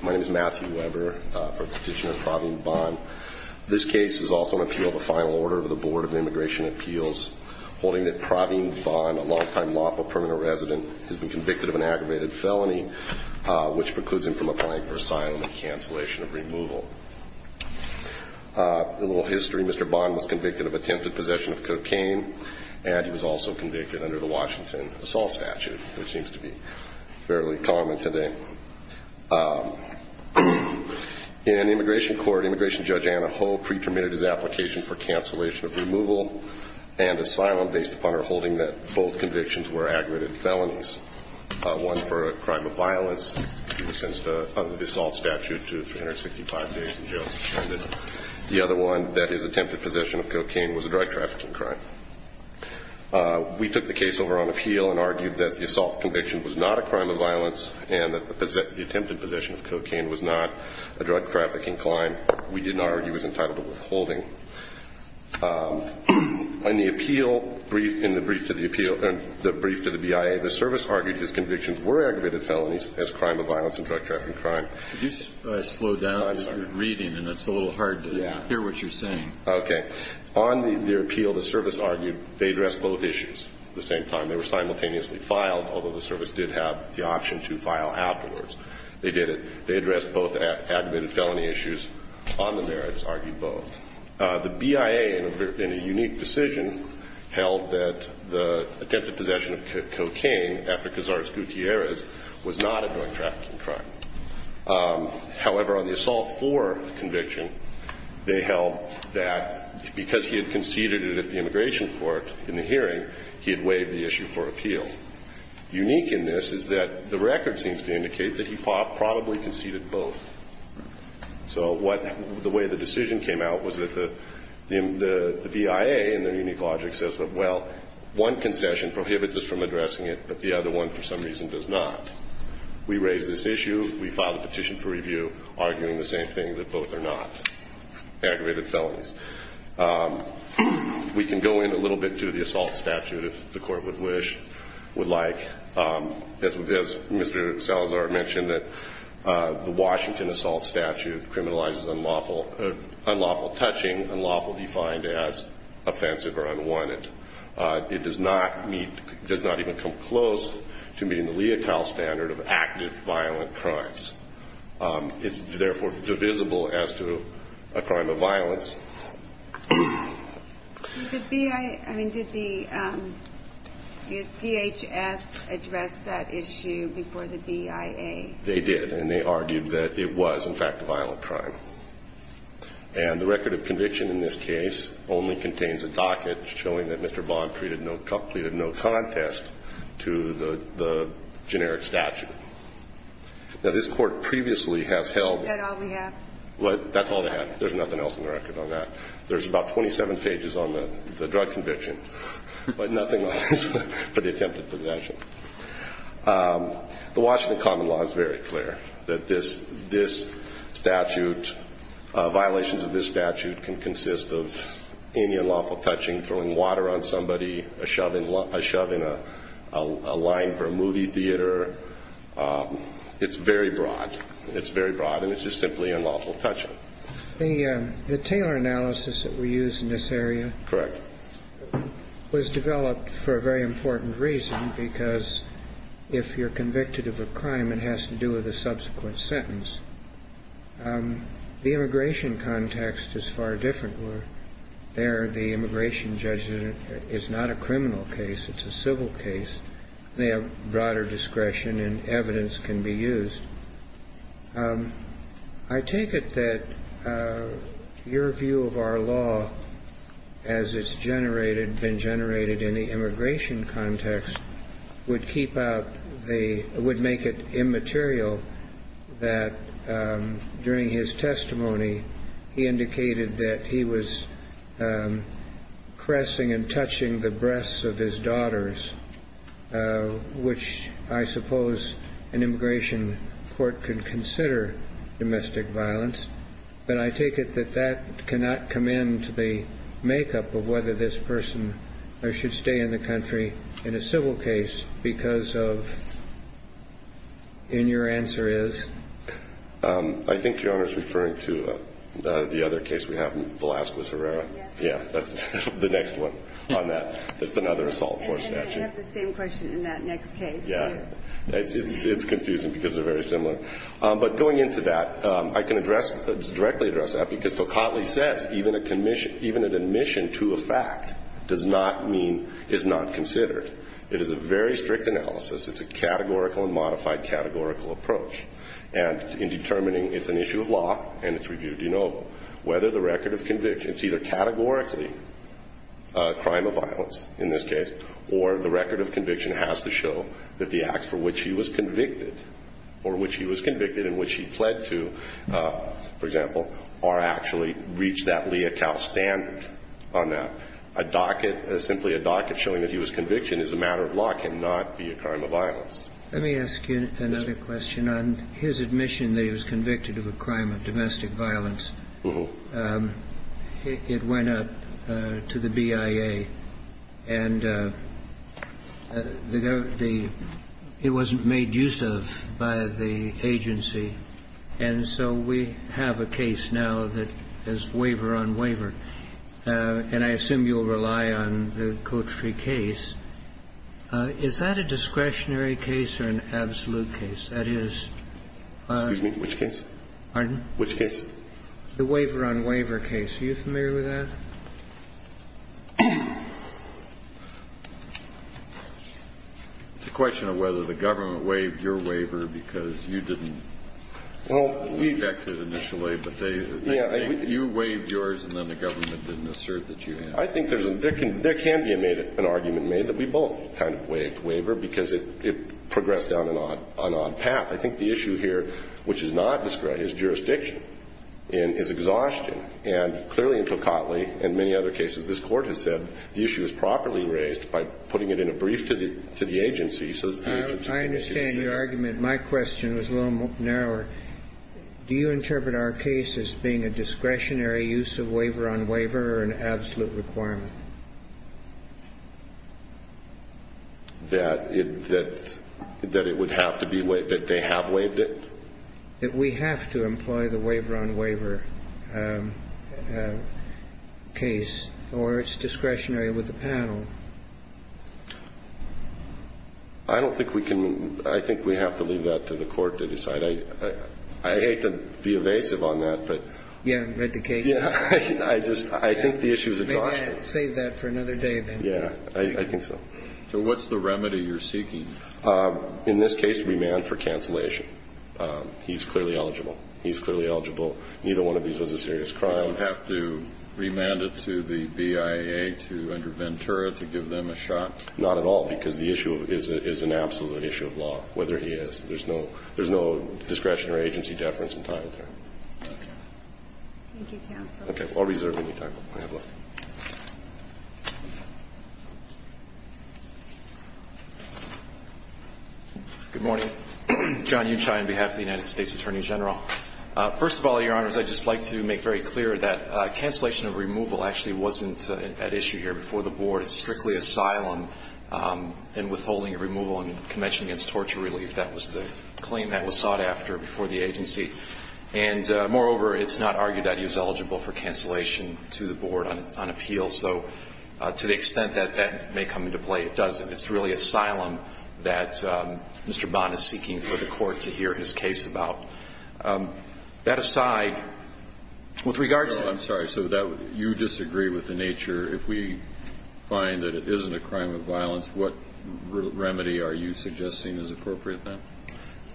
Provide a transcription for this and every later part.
My name is Matthew Weber. I'm a petitioner for Pravin Bhan. This case is also an appeal of a final order of the Board of Immigration Appeals, holding that Pravin Bhan, a long-time lawful permanent resident, has been convicted of an aggravated felony, which precludes him from applying for asylum and cancellation of removal. In little history, Mr. Bhan was convicted of attempted possession of cocaine, and he was also convicted under the Washington assault statute, which seems to be fairly common today. In immigration court, Immigration Judge Anna Ho pre-permitted his application for cancellation of removal and asylum based upon her holding that both convictions were aggravated felonies, one for a crime of violence sentenced under the assault statute to 365 days in jail. The other one, that is, attempted possession of cocaine, was a drug-trafficking crime. We took the case over on appeal and argued that the assault conviction was not a crime of violence and that the attempted possession of cocaine was not a drug-trafficking crime. We didn't argue it was entitled to withholding. In the appeal, in the brief to the BIA, the service argued his convictions were aggravated felonies as a crime of violence and drug-trafficking crime. Could you slow down? I'm sorry. You're reading, and it's a little hard to hear what you're saying. Okay. On the appeal, the service argued they addressed both issues at the same time. They were simultaneously filed, although the service did have the option to file afterwards. They did it. They addressed both aggravated felony issues. On the merits, argued both. The BIA, in a unique decision, held that the attempted possession of cocaine, Efekazars Gutierrez, was not a drug-trafficking crime. However, on the assault floor conviction, they held that because he had conceded it at the immigration court in the hearing, he had waived the issue for appeal. Unique in this is that the record seems to indicate that he probably conceded both. So the way the decision came out was that the BIA, in their unique logic, says that, well, one concession prohibits us from addressing it, but the other one, for some reason, does not. We raise this issue. We file a petition for review, arguing the same thing, that both are not aggravated felonies. We can go in a little bit to the assault statute, if the Court would like. As Mr. Salazar mentioned, the Washington assault statute criminalizes unlawful touching, unlawful defined as offensive or unwanted. It does not meet, does not even come close to meeting the leotard standard of active violent crimes. It's therefore divisible as to a crime of violence. The BIA, I mean, did the, is DHS address that issue before the BIA? They did. And they argued that it was, in fact, a violent crime. And the record of conviction in this case only contains a docket showing that Mr. Bond treated no, pleaded no contest to the generic statute. Now, this Court previously has held Is that all we have? That's all they have. There's nothing else in the record on that. There's about 27 pages on the drug conviction, but nothing else for the attempted possession. The Washington common law is very clear, that this statute, violations of this statute can consist of any unlawful touching, throwing water on somebody, a shove in a line for a movie theater. It's very broad. It's very broad, and it's just simply unlawful touching. The Taylor analysis that we use in this area was developed for a very important reason, because if you're convicted of a crime, it has to do with a subsequent sentence. The immigration context is far different. There, the immigration judge is not a criminal case. It's a civil case. They have broader discretion, and evidence can be used. I take it that your view of our law, as it's generated, in the immigration context, would keep out the, would make it immaterial that during his testimony, he indicated that he was caressing and touching the breasts of his daughters, which I suppose an immigration court could consider domestic violence. But I take it that that cannot come into the makeup of whether this person should stay in the country in a civil case, because of, and your answer is? I think Your Honor is referring to the other case we have in Velasquez, Herrera. Yes. Yeah, that's the next one on that. That's another assault court statute. And then we have the same question in that next case, too. It's confusing, because they're very similar. But going into that, I can address, directly address that, because Tocatli says, even a commission, even an admission to a fact does not mean, is not considered. It is a very strict analysis. It's a categorical and modified categorical approach. And in determining, it's an issue of law, and it's reviewed, you know, whether the record of conviction, it's either categorically a crime of violence, in this case, or the record of conviction has to be a crime of violence for which he was convicted, or which he was convicted and which he pled to, for example, or actually reach that lea cal standard on that. A docket, simply a docket, showing that he was convicted is a matter of law, cannot be a crime of violence. Let me ask you another question. On his admission that he was convicted of a crime of domestic violence, it went up to the BIA. And the, in his admission, the BIA he was convicted of a crime of domestic violence. It wasn't made use of by the agency. And so we have a case now that is waiver on waiver. And I assume you'll rely on the Code 3 case. Is that a discretionary case or an absolute case? That is. Excuse me. Which case? Pardon? Which case? The waiver on waiver case. Are you familiar with that? It's a question of whether the government waived your waiver because you didn't Well, we Inject it initially, but they Yeah, I You waived yours and then the government didn't assert that you had I think there's a, there can be an argument made that we both kind of waived waiver because it progressed down an odd path. I think the issue here, which is not in his exhaustion and clearly in Tocatli and many other cases, this court has said the issue is properly raised by putting it in a brief to the, to the agency so I understand your argument. My question was a little more narrower. Do you interpret our case as being a discretionary use of waiver on waiver or an absolute requirement? That it, that, that it would have to be waived, that they have waived it? That we have to employ the waiver on waiver case or it's discretionary with the panel? I don't think we can, I think we have to leave that to the court to decide. I, I I hate to be evasive on that, but Yeah, but the case Yeah, I just, I think the issue is exhaustion Save that for another day then Yeah, I think so So what's the remedy you're seeking? In this case, remand for cancellation. He's clearly eligible. He's clearly eligible. Neither one of these was a serious crime Do we have to remand it to the BIA to, under Ventura, to give them a shot? Not at all, because the issue is, is an absolute issue of law, whether he is. There's no, there's no discretionary agency deference in time there Okay Thank you, counsel Okay, I'll reserve any time. I have a list Good morning. John Uchai on behalf of the United States Attorney General. First of all, your honors, I'd just like to make very clear that cancellation of removal actually wasn't an issue here before the board. It's strictly asylum and withholding removal in the Convention Against Torture Relief. That was the claim that was sought after before the agency. And moreover, it's not argued that he was eligible for cancellation to the board on, on appeal. So to the extent that that may come into play, it doesn't. It's really asylum that Mr. Bond is seeking for the court to hear his case about. That aside, with regard to No, I'm sorry. So that, you disagree with the nature. If we find that it isn't a crime of violence, what remedy are you suggesting is appropriate then?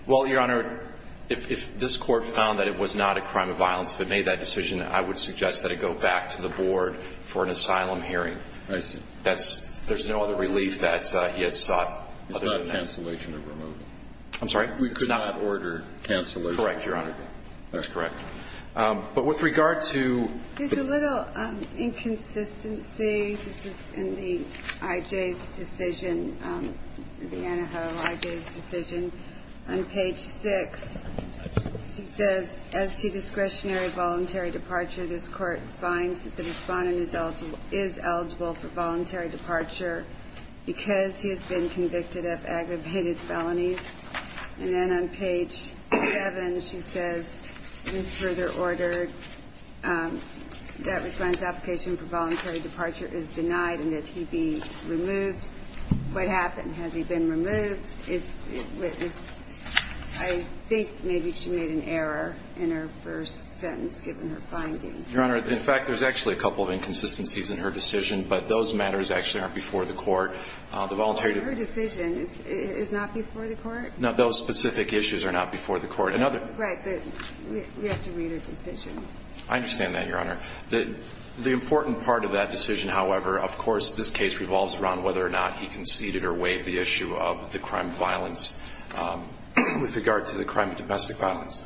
Well, your honor, if, if this court found that it was not a crime of violence, if it made that decision, I would suggest that it go back to the board for an asylum hearing I see That's, there's no other relief that he has sought other than that. It's not a cancellation of removal. I'm sorry? We could not order cancellation of removal. Correct, your honor. That's correct. But with regard to There's a little inconsistency. This is in the I.J.'s decision, the Anaho I.J.'s decision. On page 6, it says, as to discretionary voluntary departure, this court finds that the voluntary departure, because he has been convicted of aggravated felonies, and then on page 7, she says, it is further ordered that response application for voluntary departure is denied and that he be removed. What happened? Has he been removed? I think maybe she made an error in her first sentence, given her finding. Your honor, in fact, there's actually a couple of inconsistencies in her decision, but those matters actually aren't before the court. Her decision is not before the court? No, those specific issues are not before the court. Right, but we have to read her decision. I understand that, your honor. The important part of that decision, however, of course, this case revolves around whether or not he conceded or waived the issue of the crime of violence with regard to the crime of domestic violence.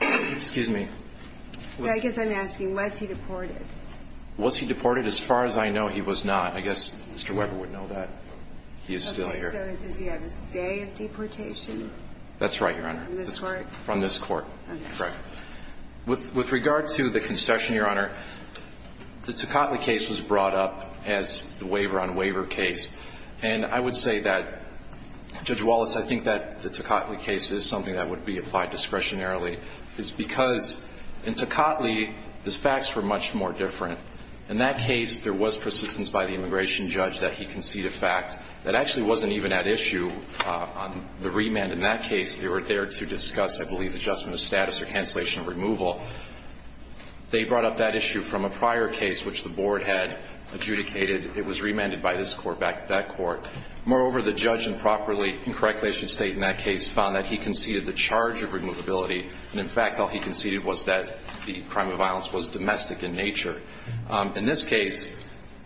Excuse me? I guess I'm asking, was he deported? Was he deported? As far as I know, he was not. I guess Mr. Weber would know that. Okay, so does he have a stay of deportation? That's right, your honor. From this court? From this court, correct. With regard to the concession, your honor, the Tocatli case was brought up as the waiver-on-waiver case, and I would say that, Judge Wallace, I think that the Tocatli case is something that would be applied discretionarily. It's because in Tocatli, the facts were much more different. In that case, there was persistence by the immigration judge that he conceded a fact that actually wasn't even at issue on the remand. In that case, they were there to discuss, I believe, adjustment of status or cancellation of removal. They brought up that issue from a prior case which the board had adjudicated. It was remanded by this court back to that court. Moreover, the judge improperly, incorrectly, as you state in that case, found that he conceded the charge of removability. In fact, all he conceded was that the crime of violence was domestic in nature. In this case,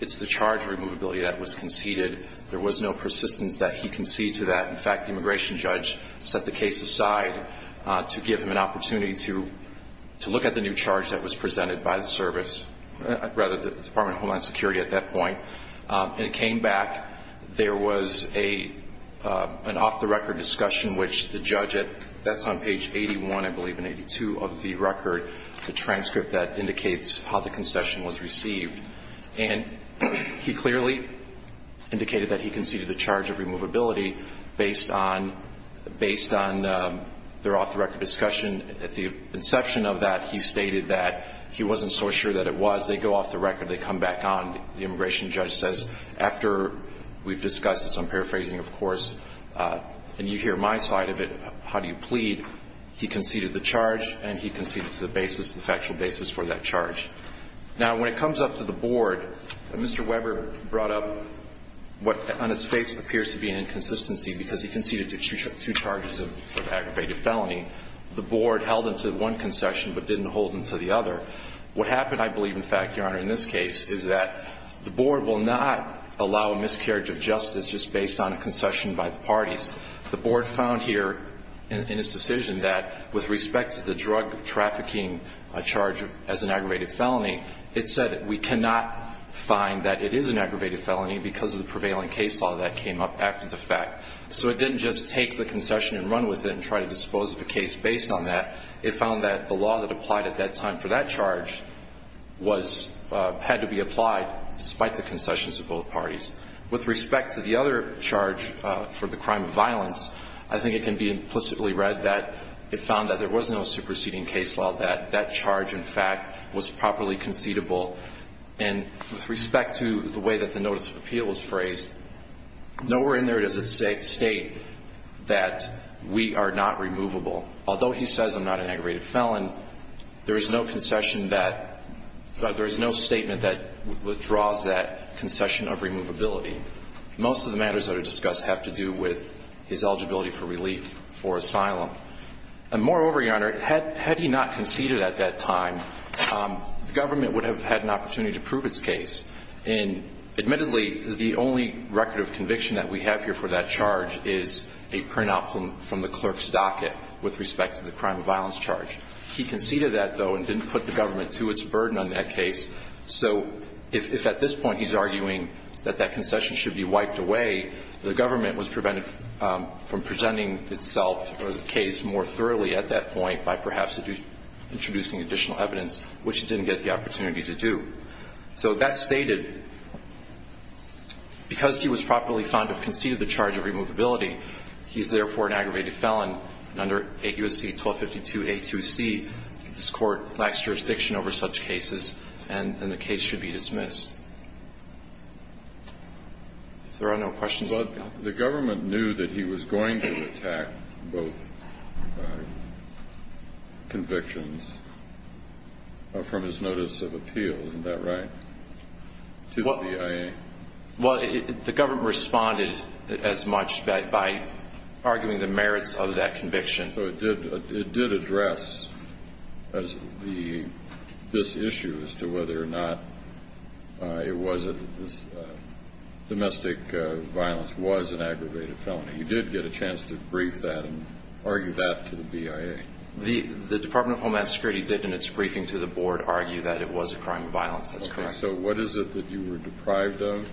it's the charge of removability that was conceded. There was no persistence that he conceded to that. In fact, the immigration judge set the case aside to give him an opportunity to look at the new charge that was presented by the service, rather the Department of Homeland Security at that point. It came back. There was an off-the-record discussion which the judge had. That's on page 81, I believe, and 82 of the record, the transcript that indicates how the concession was received. He clearly indicated that he conceded the charge of removability based on their off-the-record discussion. At the inception of that, he stated that he wasn't so sure that it was. They go off the record. They come back on. The immigration judge says, after we've discussed this, I'm paraphrasing, of course, and you hear my side of it, how do you plead? He conceded the charge and he conceded to the basis, the factual basis for that charge. Now, when it comes up to the board, Mr. Weber brought up what on his face appears to be an inconsistency because he conceded to two charges of aggravated felony. The board held them to one concession but didn't hold them to the other. What happened, I believe, in fact, Your Honor, in this case, is that the board will not allow a miscarriage of justice just based on a concession by the parties. The board found here in its decision that with respect to the drug trafficking charge as an aggravated felony, it said that we cannot find that it is an aggravated felony because of the prevailing case law that came up after the fact. So it didn't just take the concession and run with it and try to dispose of a case based on that. It found that the law that applied at that time for that charge had to be applied despite the concessions of both parties. With respect to the other charge for the crime of violence, I think it can be implicitly read that it found that there was no superseding case law, that that charge, in fact, was properly conceivable. And with respect to the way that the notice of appeal was phrased, nowhere in there does it state that we are not removable. Although he says I'm not an aggravated felon, there is no concession that there is no statement that withdraws that concession of removability. Most of the matters that are discussed have to do with his eligibility for relief for asylum. And moreover, Your Honor, had he not conceded at that time, the government would have had an opportunity to prove its case. And admittedly, the only record of conviction that we have here for that charge is a printout from the clerk's docket with respect to the crime of violence charge. He conceded that, though, and didn't put the government to its burden on that case. So if at this point he's arguing that that concession should be wiped away, the government was prevented from presenting itself or the case more thoroughly at that point by perhaps introducing additional evidence, which it didn't get the opportunity to do. So that's stated. Because he was properly found to have conceded the charge of removability, he's therefore an aggravated felon under 8 U.S.C. 1252A2C. This court lacks jurisdiction over such cases and the case should be dismissed. If there are no questions, I'll let you go. But the government knew that he was going to attack both convictions from his notice of appeal, isn't that right? To the BIA? Well, the government responded as much by arguing the merits of that conviction. So it did address this issue as to whether or not domestic violence was an aggravated felony. You did get a chance to brief that and argue that to the BIA. The Department of Homeland Security did in its briefing to the board argue that it was a crime of violence, that's correct. So what is it that you were deprived of?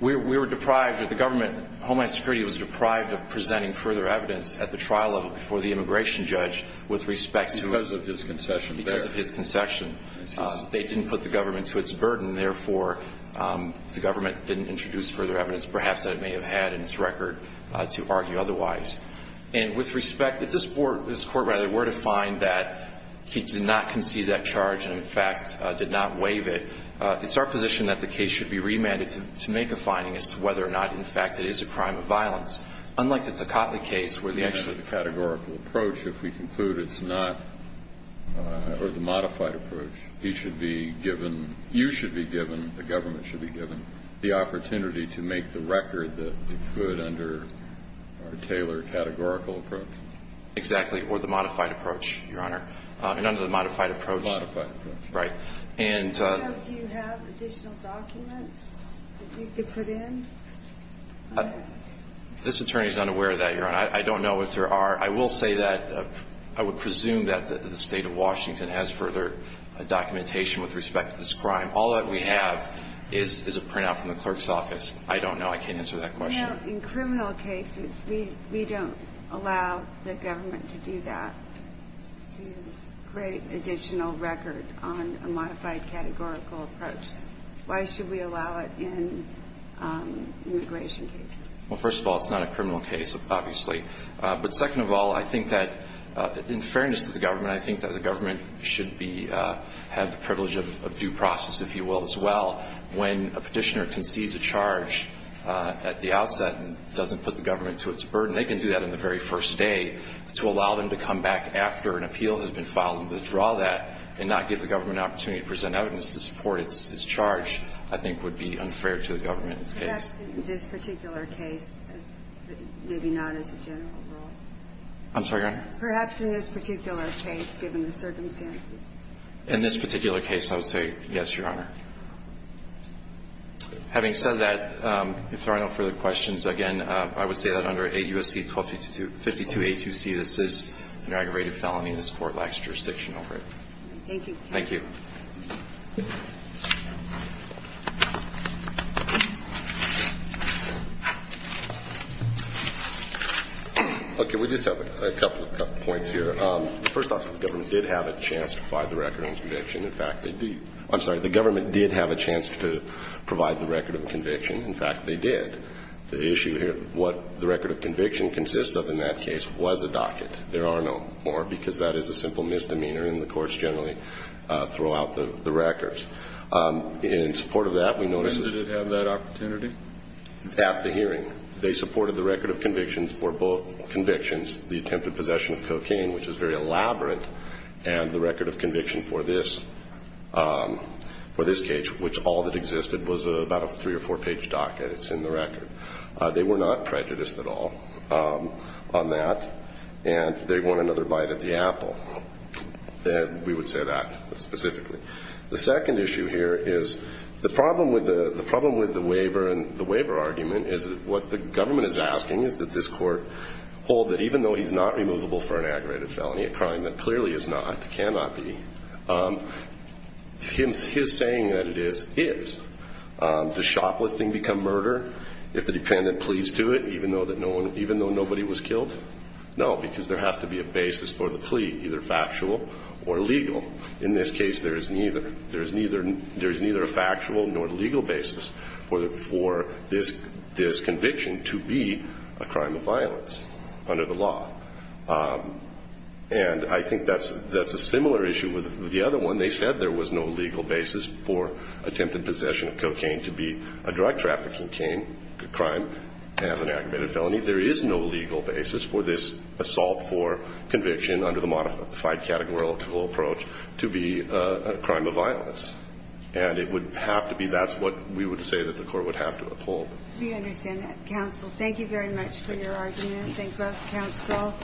Homeland Security was deprived of presenting further evidence at the trial level before the immigration judge with respect to his concession. They didn't put the government to its burden, therefore the government didn't introduce further evidence perhaps that it may have had in its record to argue otherwise. If this court were to find that he did not concede that charge and, in fact, did not waive it, it's our position that the case should be remanded to make a finding as to whether or not, in fact, it is a crime of violence. Unlike the Tocatli case, where the actual categorical approach, if we conclude it's not, or the modified approach, he should be given, you should be given, the government should be given, the opportunity to make the record that it could under a tailored categorical approach. Exactly, or the modified approach, Your Honor. And under the modified approach. Modified approach. Right. Do you have additional documents that you could put in? This attorney is unaware of that, Your Honor. I don't know if there are. I will say that, I would presume that the state of Washington has further documentation with respect to this crime. All that we have is a printout from the clerk's office. I don't know. I can't answer that question. Now, in criminal cases, we don't allow the government to do that, to create additional record on a modified categorical approach. Why should we allow it in immigration cases? Well, first of all, it's not a criminal case, obviously. But second of all, I think that, in fairness to the government, I think that the government should be, have the privilege of due process, if you will, as well. When a petitioner concedes a charge at the outset and doesn't put the government to its burden, they can do that in the very first day. To allow them to come back after an appeal has been filed and withdraw that, and not give the government an opportunity to present evidence to support its charge, I think would be unfair to the government in this case. Perhaps in this particular case, maybe not as a general rule. I'm sorry, Your Honor? Perhaps in this particular case, given the circumstances. In this particular case, I would say yes, Your Honor. Having said that, if there are no further questions, again, I would say that under 8 U.S.C. 1252A2C, this is an aggravated felony and this Court lacks jurisdiction over it. Thank you. Thank you. Okay. We just have a couple of points here. First off, the government did have a chance to provide the record of conviction. In fact, they did. I'm sorry, the government did have a chance to provide the record of conviction. In fact, they did. The issue here, what the record of conviction consists of in that case was a docket. There are no more, because that is a simple misdemeanor, and the courts generally throw out the records. In support of that, we notice that the hearing, they supported the record of conviction for both convictions, the attempted possession of cocaine, which is very elaborate, and the record of conviction for this, for this case, which all that existed was about a three- or four-page docket. It's in the record. They were not prejudiced at all on that, and they want another bite at the apple. We would say that specifically. The second issue here is the problem with the waiver and the waiver argument is that what the government is asking is that this Court hold that even though he's not removable for an aggravated felony, a crime that clearly is not, cannot be, his saying that it is, is. Does shoplifting become murder if the defendant pleads to it, even though nobody was killed? No, because there has to be a basis for the plea, either factual or legal. In this case, there is neither. There is neither a factual nor legal basis for this conviction to be a crime of violence under the law. And I think that's a similar issue with the other one. They said there was no legal basis for attempted possession of cocaine to be a drug trafficking crime as an aggravated felony. There is no legal basis for this assault for conviction under the modified categorical approach to be a crime of violence. And it would have to be. That's what we would say that the Court would have to uphold. We understand that, counsel. Thank you very much for your argument. Thank both counsel.